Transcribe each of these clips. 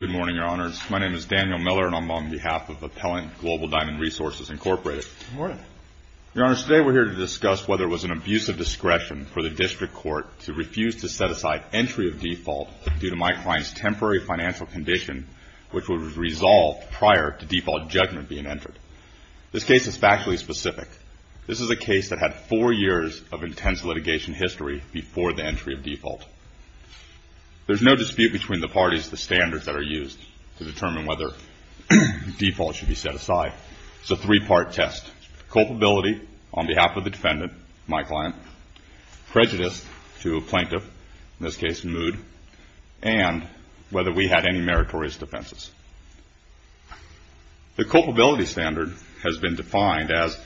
Good morning, Your Honors. My name is Daniel Miller, and I'm on behalf of Appellant Global Diamond Resources, Inc. Good morning. Your Honors, today we're here to discuss whether it was an abuse of discretion for the district court to refuse to set aside entry of default due to my client's temporary financial condition, which was resolved prior to default judgment being entered. This case is factually specific. This is a case that had four years of intense litigation history before the entry of default. There's no dispute between the parties of the standards that are used to determine whether default should be set aside. It's a three-part test. Culpability on behalf of the defendant, my client, prejudice to a plaintiff, in this case Mood, and whether we had any meritorious defenses. The culpability standard has been defined as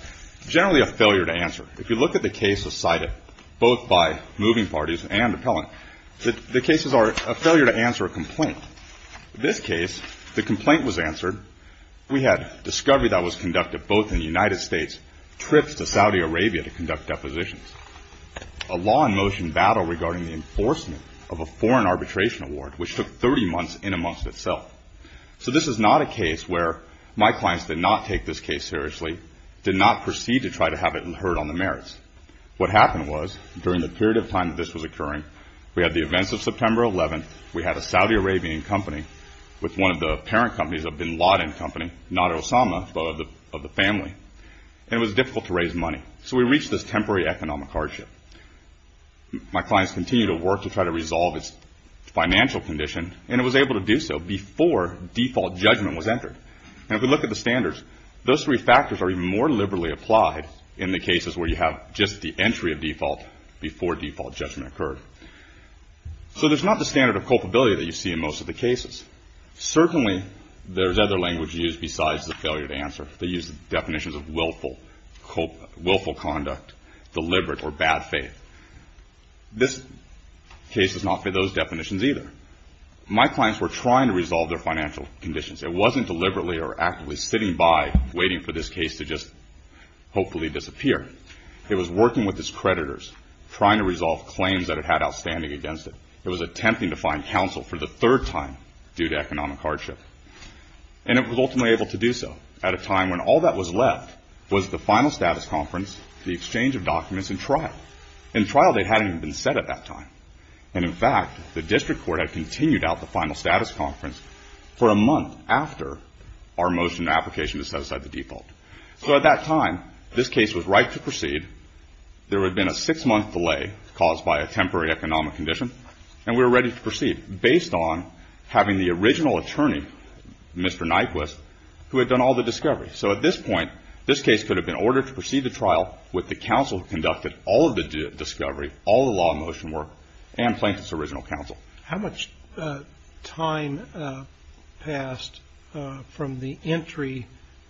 generally a failure to answer. If you look at the cases cited, both by moving parties and appellant, the cases are a failure to answer a complaint. In this case, the complaint was answered. We had discovery that was conducted both in the United States, trips to Saudi Arabia to conduct depositions, a law in motion battle regarding the enforcement of a foreign arbitration award, which took 30 months in and amongst itself. So this is not a case where my clients did not take this case seriously, did not proceed to try to have it heard on the merits. What happened was, during the period of time that this was occurring, we had the events of September 11th, we had a Saudi Arabian company with one of the parent companies, a Bin Laden company, not Osama, but of the family, and it was difficult to raise money. So we reached this temporary economic hardship. My clients continued to work to try to resolve its financial condition, and it was able to do so before default judgment was entered. And if we look at the standards, those three factors are even more liberally applied in the cases where you have just the entry of default before default judgment occurred. So there's not the standard of culpability that you see in most of the cases. Certainly, there's other language used besides the failure to answer. They use definitions of willful conduct, deliberate, or bad faith. This case does not fit those definitions either. My clients were trying to resolve their financial conditions. It wasn't deliberately or actively sitting by, waiting for this case to just hopefully disappear. It was working with its creditors, trying to resolve claims that it had outstanding against it. It was attempting to find counsel for the third time due to economic hardship. And it was ultimately able to do so at a time when all that was left was the final status conference, the exchange of documents, and trial. And trial date hadn't even been set at that time. And, in fact, the district court had continued out the final status conference for a month after our motion and application to set aside the default. So at that time, this case was right to proceed. There had been a six-month delay caused by a temporary economic condition, and we were ready to proceed based on having the original attorney, Mr. Nyquist, who had done all the discovery. So at this point, this case could have been ordered to proceed to trial with the counsel who conducted all of the discovery, all the law motion work, and plaintiff's original counsel. How much time passed from the entry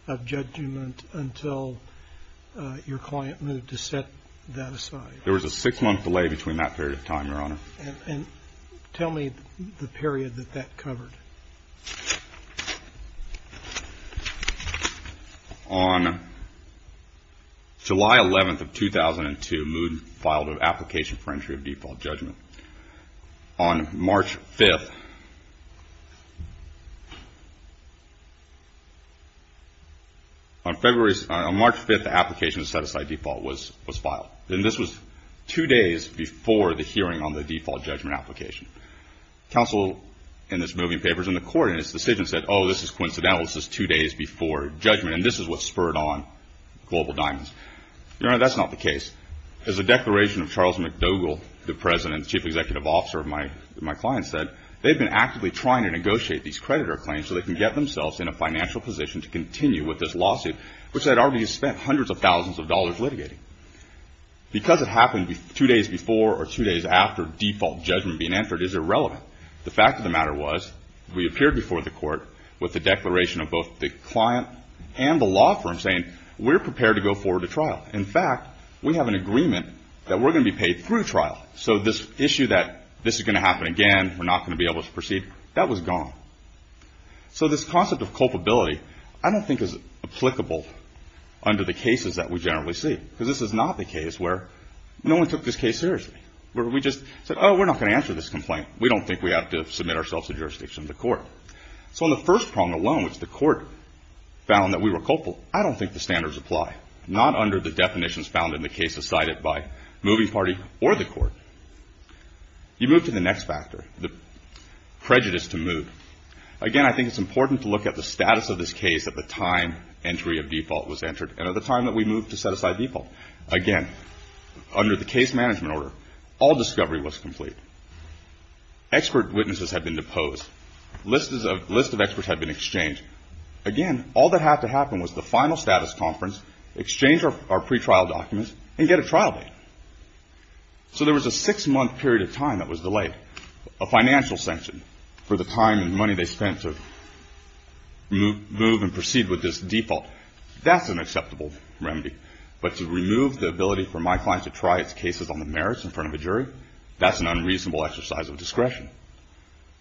of judgment until your client moved to set that aside? There was a six-month delay between that period of time, Your Honor. And tell me the period that that covered. On July 11th of 2002, Mood filed an application for entry of default judgment. On March 5th, the application to set aside default was filed. And this was two days before the hearing on the default judgment application. Counsel in this moving paper is in the court, and his decision said, oh, this is coincidental, this is two days before judgment, and this is what spurred on Global Diamonds. Your Honor, that's not the case. As the declaration of Charles McDougall, the president and chief executive officer of my client, said, they've been actively trying to negotiate these creditor claims so they can get themselves in a financial position to continue with this lawsuit, which they had already spent hundreds of thousands of dollars litigating. Because it happened two days before or two days after default judgment being entered is irrelevant. The fact of the matter was we appeared before the court with the declaration of both the client and the law firm saying, we're prepared to go forward to trial. In fact, we have an agreement that we're going to be paid through trial. So this issue that this is going to happen again, we're not going to be able to proceed, that was gone. So this concept of culpability I don't think is applicable under the cases that we generally see. Because this is not the case where no one took this case seriously. Where we just said, oh, we're not going to answer this complaint. We don't think we have to submit ourselves to jurisdiction of the court. So on the first prong alone, which the court found that we were culpable, I don't think the standards apply. Not under the definitions found in the cases cited by the moving party or the court. You move to the next factor, the prejudice to move. Again, I think it's important to look at the status of this case at the time entry of default was entered. And at the time that we moved to set aside default. Again, under the case management order, all discovery was complete. Expert witnesses had been deposed. Lists of experts had been exchanged. Again, all that had to happen was the final status conference, exchange our pretrial documents, and get a trial date. So there was a six-month period of time that was delayed. A financial sanction for the time and money they spent to move and proceed with this default. That's an acceptable remedy. But to remove the ability for my client to try its cases on the merits in front of a jury, that's an unreasonable exercise of discretion.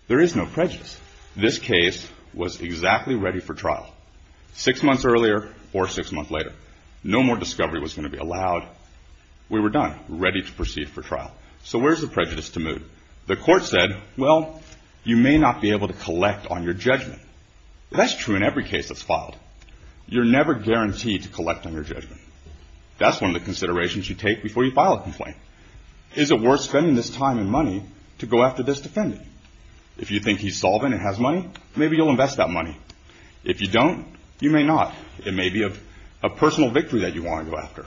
There is no prejudice. This case was exactly ready for trial. Six months earlier or six months later. No more discovery was going to be allowed. We were done. Ready to proceed for trial. So where's the prejudice to move? The court said, well, you may not be able to collect on your judgment. That's true in every case that's filed. You're never guaranteed to collect on your judgment. That's one of the considerations you take before you file a complaint. Is it worth spending this time and money to go after this defendant? If you think he's solvent and has money, maybe you'll invest that money. If you don't, you may not. It may be a personal victory that you want to go after.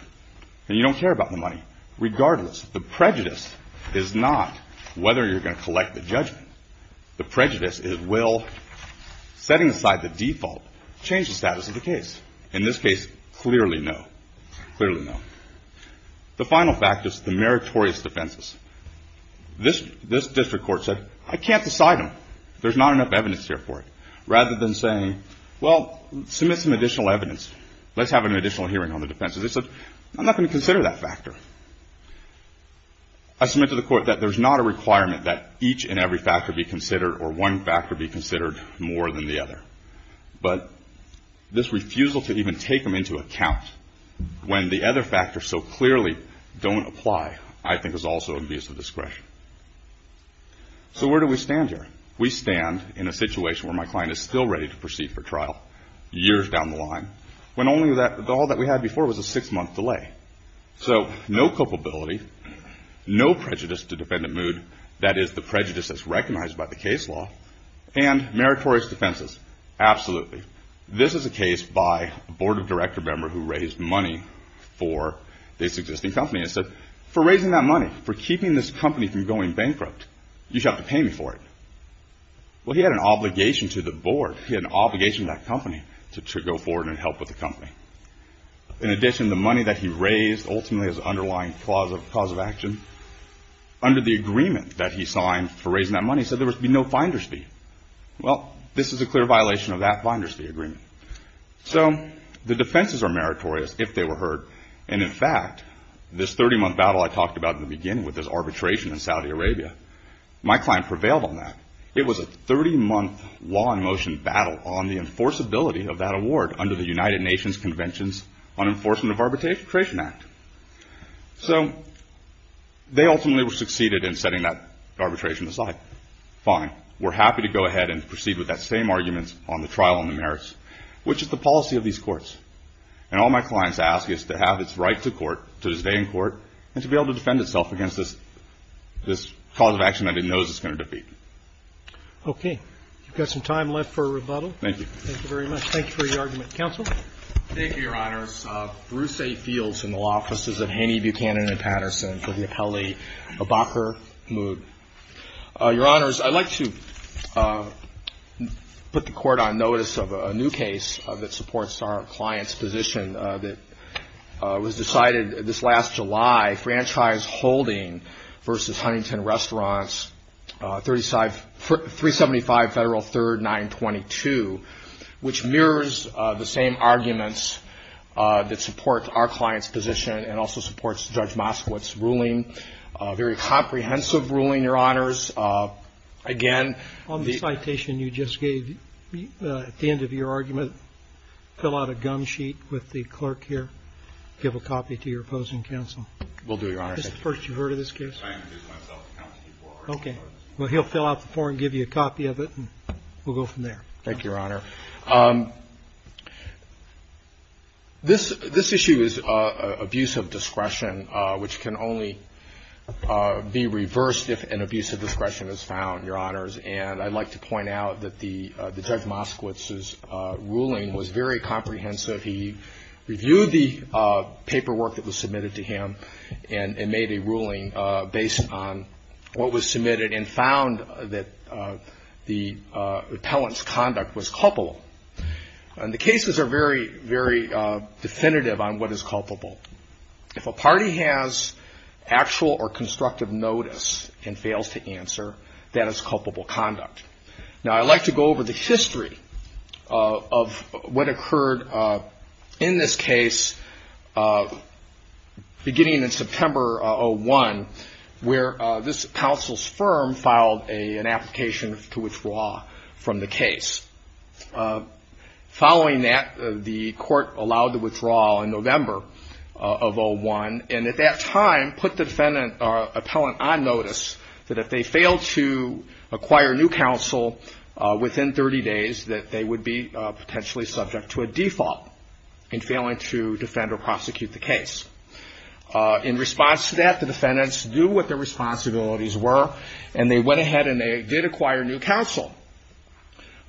And you don't care about the money. Regardless, the prejudice is not whether you're going to collect the judgment. The prejudice is will setting aside the default change the status of the case. In this case, clearly no. Clearly no. The final fact is the meritorious defenses. This district court said, I can't decide them. There's not enough evidence here for it. Rather than saying, well, submit some additional evidence. Let's have an additional hearing on the defenses. They said, I'm not going to consider that factor. I submit to the court that there's not a requirement that each and every factor be considered or one factor be considered more than the other. But this refusal to even take them into account when the other factors so clearly don't apply, I think is also a misdiscretion. So where do we stand here? We stand in a situation where my client is still ready to proceed for trial years down the line when all that we had before was a six-month delay. So no culpability, no prejudice to defendant mood, that is the prejudice that's recognized by the case law, and meritorious defenses, absolutely. This is a case by a board of director member who raised money for this existing company. I said, for raising that money, for keeping this company from going bankrupt, you have to pay me for it. Well, he had an obligation to the board. He had an obligation to that company to go forward and help with the company. In addition, the money that he raised ultimately is the underlying cause of action. Under the agreement that he signed for raising that money, he said there would be no finder's fee. Well, this is a clear violation of that finder's fee agreement. So the defenses are meritorious if they were heard. And, in fact, this 30-month battle I talked about in the beginning with this arbitration in Saudi Arabia, my client prevailed on that. It was a 30-month law-in-motion battle on the enforceability of that award under the United Nations Conventions on Enforcement of Arbitration Act. So they ultimately succeeded in setting that arbitration aside. Fine. We're happy to go ahead and proceed with that same argument on the trial on the merits, which is the policy of these courts. And all my clients ask is to have its right to court, to stay in court, and to be able to defend itself against this cause of action that it knows it's going to defeat. Okay. We've got some time left for a rebuttal. Thank you. Thank you very much. Thank you for your argument. Counsel? Thank you, Your Honors. Bruce A. Fields in the Law Offices of Haney, Buchanan & Patterson for the appellee, Abakar Mood. Your Honors, I'd like to put the Court on notice of a new case that supports our client's position that was decided this last July, Franchise Holding v. Huntington Restaurants, 375 Federal 3rd 922, which mirrors the same arguments that support our client's position and also supports Judge Moskowitz's ruling, a very comprehensive ruling, Your Honors. Again, the ---- On the citation you just gave, at the end of your argument, fill out a gum sheet with the clerk here. Give a copy to your opposing counsel. Will do, Your Honor. Is this the first you've heard of this case? I introduced myself to counsel before. Okay. Well, he'll fill out the form, give you a copy of it, and we'll go from there. Thank you, Your Honor. This issue is abuse of discretion, which can only be reversed if an abuse of discretion is found, Your Honors, and I'd like to point out that the Judge Moskowitz's ruling was very comprehensive. He reviewed the paperwork that was submitted to him and made a ruling based on what was submitted and found that the appellant's conduct was culpable. And the cases are very, very definitive on what is culpable. If a party has actual or constructive notice and fails to answer, that is culpable conduct. Now, I'd like to go over the history of what occurred in this case beginning in September of 2001, where this counsel's firm filed an application to withdraw from the case. Following that, the court allowed the withdrawal in November of 2001, and at that time put the defendant or appellant on notice that if they failed to acquire new counsel within 30 days, that they would be potentially subject to a default in failing to defend or prosecute the case. In response to that, the defendants knew what their responsibilities were, and they went ahead and they did acquire new counsel.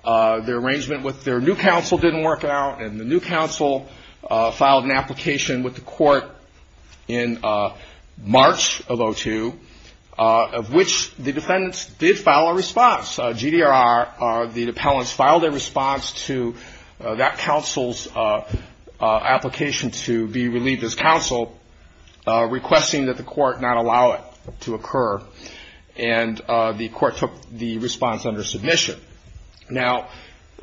Their arrangement with their new counsel didn't work out, and the new counsel filed an application with the court in March of 2002, of which the defendants did file a response. GDRR, the appellants, filed a response to that counsel's application to be relieved as counsel, requesting that the court not allow it to occur, and the court took the response under submission. Now,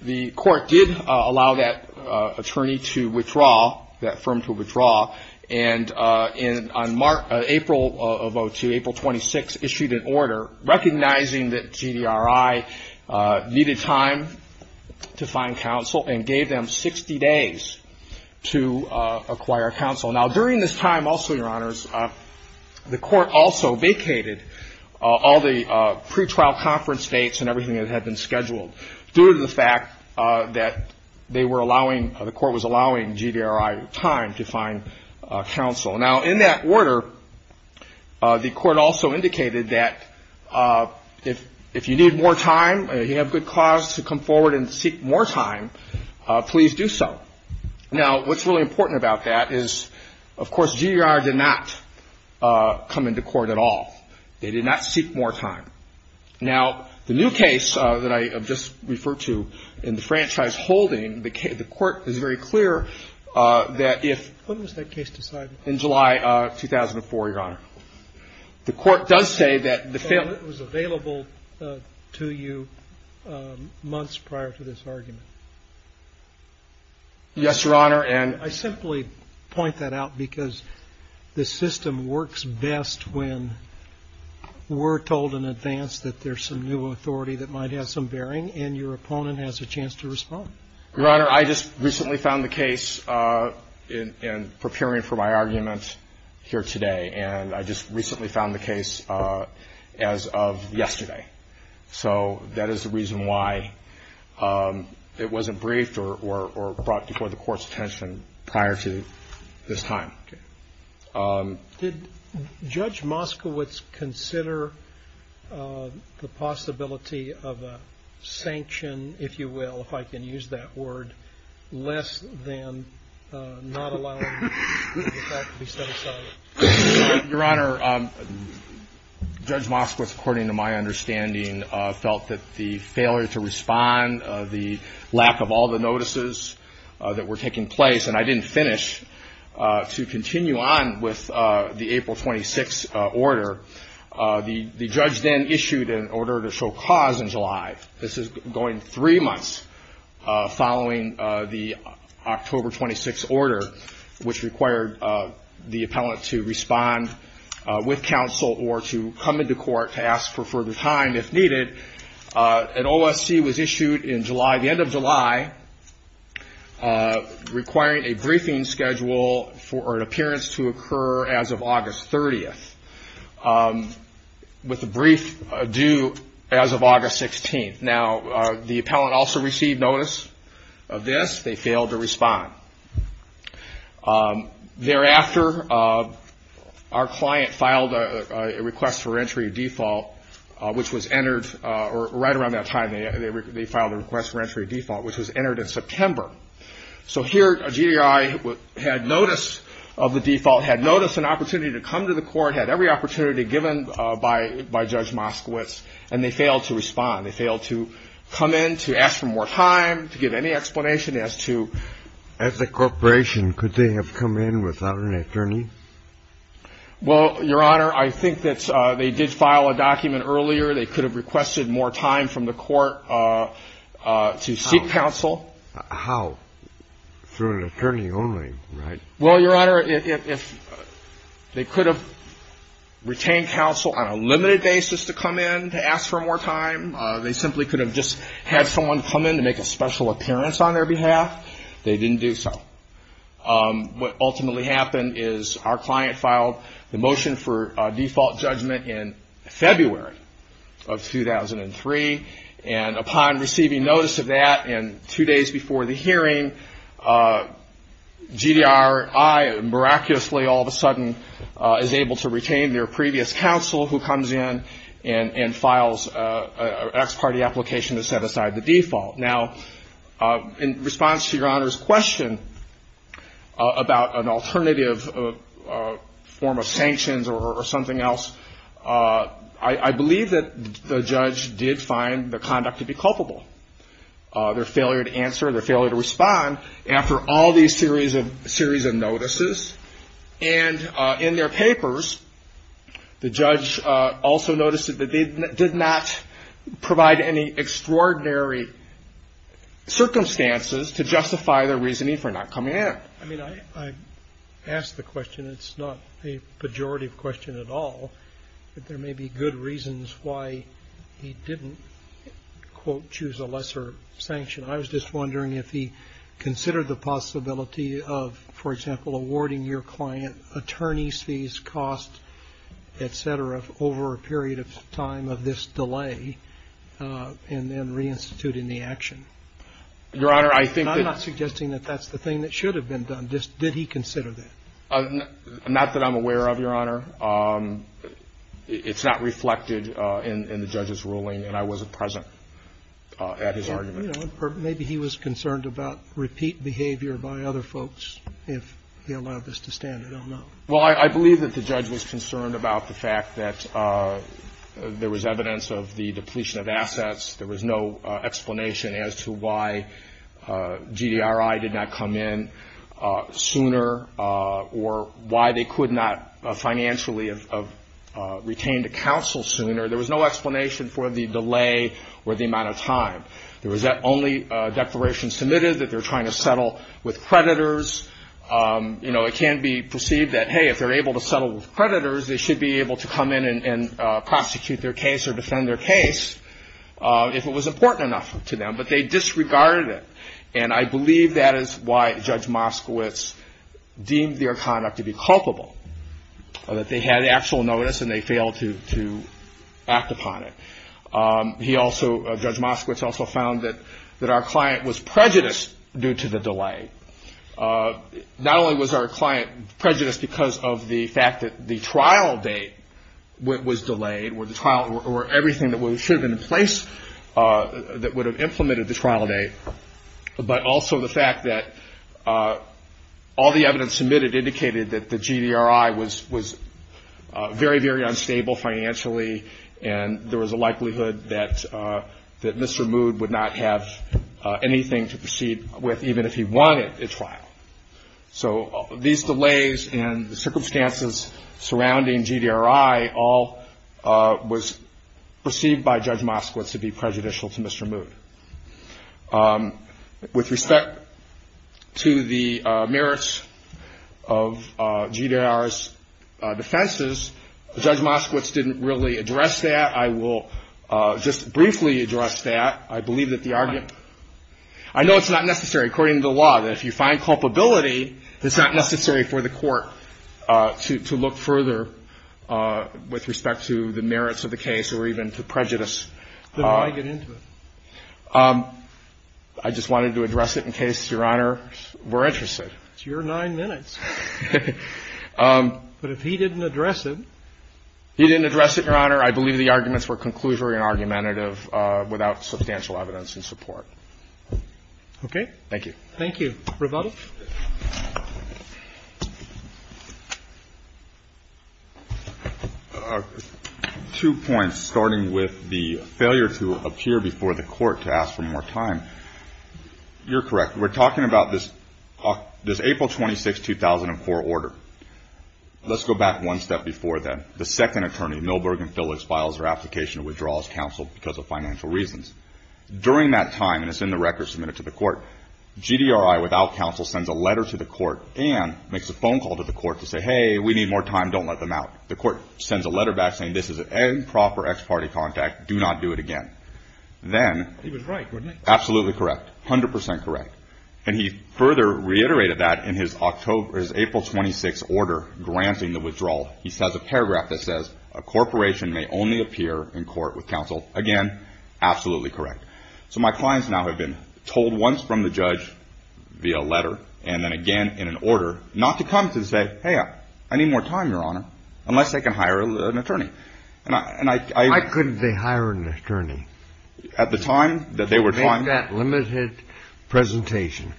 the court did allow that attorney to withdraw, that firm to withdraw, and on April of 02, April 26, issued an order recognizing that GDRI needed time to find counsel and gave them 60 days to acquire counsel. Now, during this time also, Your Honors, the court also vacated all the pretrial conference dates and everything that had been scheduled due to the fact that they were allowing, the court was allowing GDRI time to find counsel. Now, in that order, the court also indicated that if you need more time, if you have good cause to come forward and seek more time, please do so. Now, what's really important about that is, of course, GDRI did not come into court at all. They did not seek more time. Now, the new case that I have just referred to in the franchise holding, the court is very clear that if — When was that case decided? In July 2004, Your Honor. The court does say that the — So it was available to you months prior to this argument? Yes, Your Honor, and — I simply point that out because the system works best when we're told in advance that there's some new authority that might have some bearing and your opponent has a chance to respond. Your Honor, I just recently found the case in preparing for my argument here today, and I just recently found the case as of yesterday. So that is the reason why it wasn't briefed or brought before the court's attention prior to this time. Did Judge Moskowitz consider the possibility of a sanction, if you will, if I can use that word, less than not allowing the fact to be set aside? Your Honor, Judge Moskowitz, according to my understanding, felt that the failure to respond, the lack of all the notices that were taking place, and I didn't finish. To continue on with the April 26 order, the judge then issued an order to show cause in July. This is going three months following the October 26 order, which required the appellant to respond with counsel or to come into court to ask for further time if needed. An OSC was issued in July, the end of July, requiring a briefing schedule for an appearance to occur as of August 30th, with a brief due as of August 16th. Now, the appellant also received notice of this. They failed to respond. Thereafter, our client filed a request for entry default, which was entered right around that time. They filed a request for entry default, which was entered in September. So here, a GDI had notice of the default, had notice and opportunity to come to the court, had every opportunity given by Judge Moskowitz, and they failed to respond. They failed to come in, to ask for more time, to give any explanation as to. As a corporation, could they have come in without an attorney? Well, Your Honor, I think that they did file a document earlier. They could have requested more time from the court to seek counsel. How? Through an attorney only, right? Well, Your Honor, if they could have retained counsel on a limited basis to come in to ask for more time, they simply could have just had someone come in to make a special appearance on their behalf. They didn't do so. What ultimately happened is our client filed the motion for default judgment in February of 2003, and upon receiving notice of that and two days before the hearing, GDI miraculously, all of a sudden, is able to retain their previous counsel who comes in and files an ex parte application to set aside the default. Now, in response to Your Honor's question about an alternative form of sanctions or something else, I believe that the judge did find the conduct to be culpable. Their failure to answer, their failure to respond after all these series of notices. And in their papers, the judge also noticed that they did not provide any extraordinary circumstances to justify their reasoning for not coming in. I mean, I ask the question. It's not a pejorative question at all. There may be good reasons why he didn't, quote, choose a lesser sanction. I was just wondering if he considered the possibility of, for example, awarding your client attorney's fees, costs, et cetera, over a period of time of this delay, and then reinstituting the action. Your Honor, I think that the thing that should have been done, did he consider that? Not that I'm aware of, Your Honor. It's not reflected in the judge's ruling, and I wasn't present at his argument. Maybe he was concerned about repeat behavior by other folks if he allowed this to stand. I don't know. Well, I believe that the judge was concerned about the fact that there was evidence of the depletion of assets. There was no explanation as to why GDRI did not come in sooner, or why they could not financially have retained a counsel sooner. There was no explanation for the delay or the amount of time. There was only a declaration submitted that they're trying to settle with creditors. You know, it can be perceived that, hey, if they're able to settle with creditors, they should be able to come in and prosecute their case or defend their case if it was important enough to them. But they disregarded it. And I believe that is why Judge Moskowitz deemed their conduct to be culpable, that they had actual notice and they failed to act upon it. He also, Judge Moskowitz also found that our client was prejudiced due to the delay. Not only was our client prejudiced because of the fact that the trial date was delayed, where the trial or everything that should have been in place that would have implemented the trial date, but also the fact that all the evidence submitted indicated that the GDRI was very, very unstable financially and there was a likelihood that Mr. Mood would not have anything to proceed with, even if he wanted a trial. So these delays and the circumstances surrounding GDRI all was perceived by Judge Moskowitz to be prejudicial to Mr. Mood. With respect to the merits of GDRI's defenses, Judge Moskowitz didn't really address that. I will just briefly address that. I believe that the argument ñ I know it's not necessary, according to the law, that if you find culpability, it's not necessary for the court to look further with respect to the merits of the case or even to prejudice. Then why get into it? I just wanted to address it in case, Your Honor, we're interested. It's your nine minutes. But if he didn't address it ñ He didn't address it, Your Honor. I believe the arguments were conclusory and argumentative without substantial evidence in support. Okay. Thank you. Thank you. Rebuttal? Two points, starting with the failure to appear before the court to ask for more time. You're correct. We're talking about this April 26, 2004 order. Let's go back one step before then. The second attorney, Milberg and Phillips, files their application to withdraw as counsel because of financial reasons. During that time, and it's in the record submitted to the court, GDRI, without counsel, sends a letter to the court and makes a phone call to the court to say, Hey, we need more time. Don't let them out. The court sends a letter back saying, This is an improper ex parte contact. Do not do it again. Then, He was right, wasn't he? Absolutely correct. A hundred percent correct. And he further reiterated that in his April 26 order granting the withdrawal. He has a paragraph that says, A corporation may only appear in court with counsel. Again, absolutely correct. So my clients now have been told once from the judge via letter and then again in an order not to come to say, Hey, I need more time, Your Honor, unless they can hire an attorney. I couldn't be hiring an attorney. At the time that they were trying to make that limited presentation.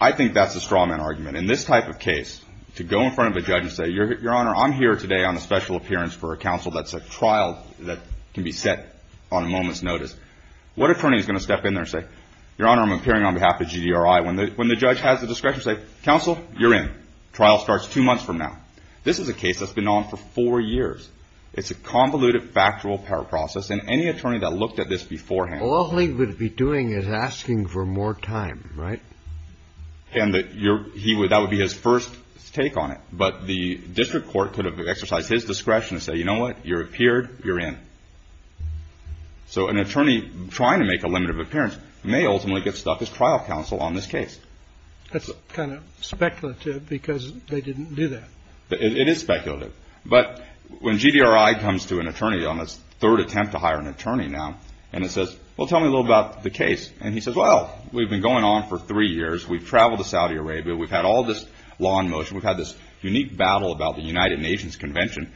I think that's a straw man argument. In this type of case, to go in front of a judge and say, Your Honor, I'm here today on a special appearance for a counsel. That's a trial that can be set on a moment's notice. What attorney is going to step in there and say, Your Honor, I'm appearing on behalf of G.D.R.I. When the judge has the discretion to say, Counsel, you're in. Trial starts two months from now. This is a case that's been on for four years. It's a convoluted, factual power process. And any attorney that looked at this beforehand. All he would be doing is asking for more time, right? And that would be his first take on it. But the district court could have exercised his discretion to say, You know what? You're appeared. You're in. So an attorney trying to make a limited appearance may ultimately get stuck as trial counsel on this case. That's kind of speculative because they didn't do that. It is speculative. But when G.D.R.I. comes to an attorney on his third attempt to hire an attorney now, and it says, Well, tell me a little about the case. And he says, Well, we've been going on for three years. We've traveled to Saudi Arabia. We've had all this law in motion. We've had this unique battle about the United Nations Convention.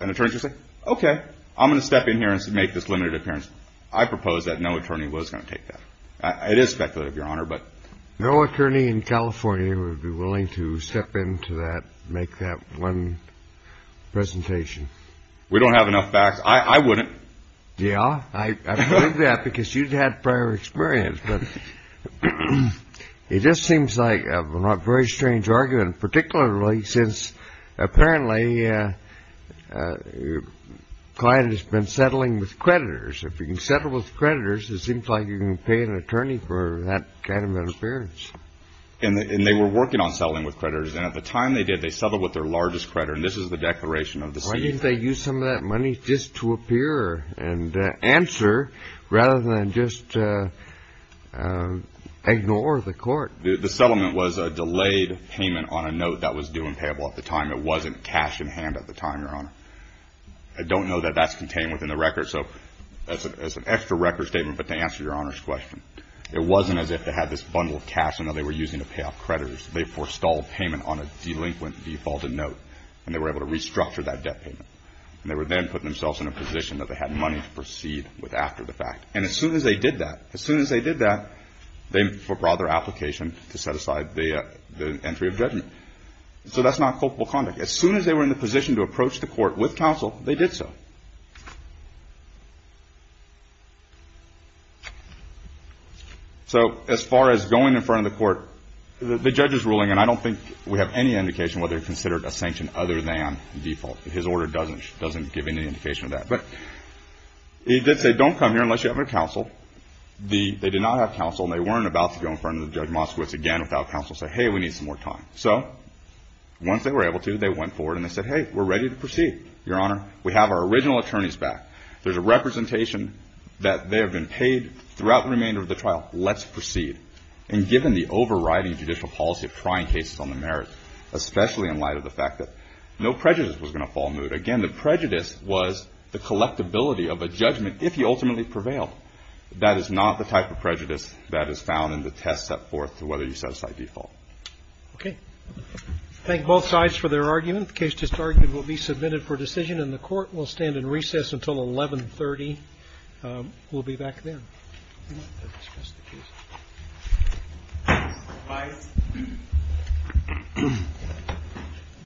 And an attorney would say, Okay, I'm going to step in here and make this limited appearance. I propose that no attorney was going to take that. It is speculative, Your Honor, but. No attorney in California would be willing to step into that, make that one presentation. We don't have enough facts. I wouldn't. Yeah, I believe that because you've had prior experience. But it just seems like a very strange argument, particularly since apparently your client has been settling with creditors. If you can settle with creditors, it seems like you can pay an attorney for that kind of an appearance. And they were working on settling with creditors. And at the time they did, they settled with their largest creditor. And this is the declaration of the season. I think they used some of that money just to appear and answer rather than just ignore the court. The settlement was a delayed payment on a note that was due and payable at the time. It wasn't cash in hand at the time, Your Honor. I don't know that that's contained within the record. So that's an extra record statement. But to answer Your Honor's question, it wasn't as if they had this bundle of cash, you know, they were using to pay off creditors. They forestalled payment on a delinquent defaulted note. And they were able to restructure that debt payment. And they would then put themselves in a position that they had money to proceed with after the fact. And as soon as they did that, as soon as they did that, they brought their application to set aside the entry of judgment. So that's not culpable conduct. As soon as they were in the position to approach the court with counsel, they did so. So as far as going in front of the court, the judge is ruling, and I don't think we have any indication whether he considered a sanction other than default. His order doesn't give any indication of that. But he did say don't come here unless you have counsel. They did not have counsel, and they weren't about to go in front of Judge Moskowitz again without counsel and say, hey, we need some more time. So once they were able to, they went forward and they said, hey, we're ready to proceed, Your Honor. We have our original attorneys back. There's a representation that they have been paid throughout the remainder of the trial. Let's proceed. And given the overriding judicial policy of trying cases on the merits, especially in light of the fact that no prejudice was going to fall amood. Again, the prejudice was the collectability of a judgment if you ultimately prevail. That is not the type of prejudice that is found in the test set forth to whether you set aside default. Okay. Thank both sides for their argument. The case just argued will be submitted for decision, and the Court will stand in recess until 1130. We'll be back then. Thank you. Thank you. Thank you. Thank you.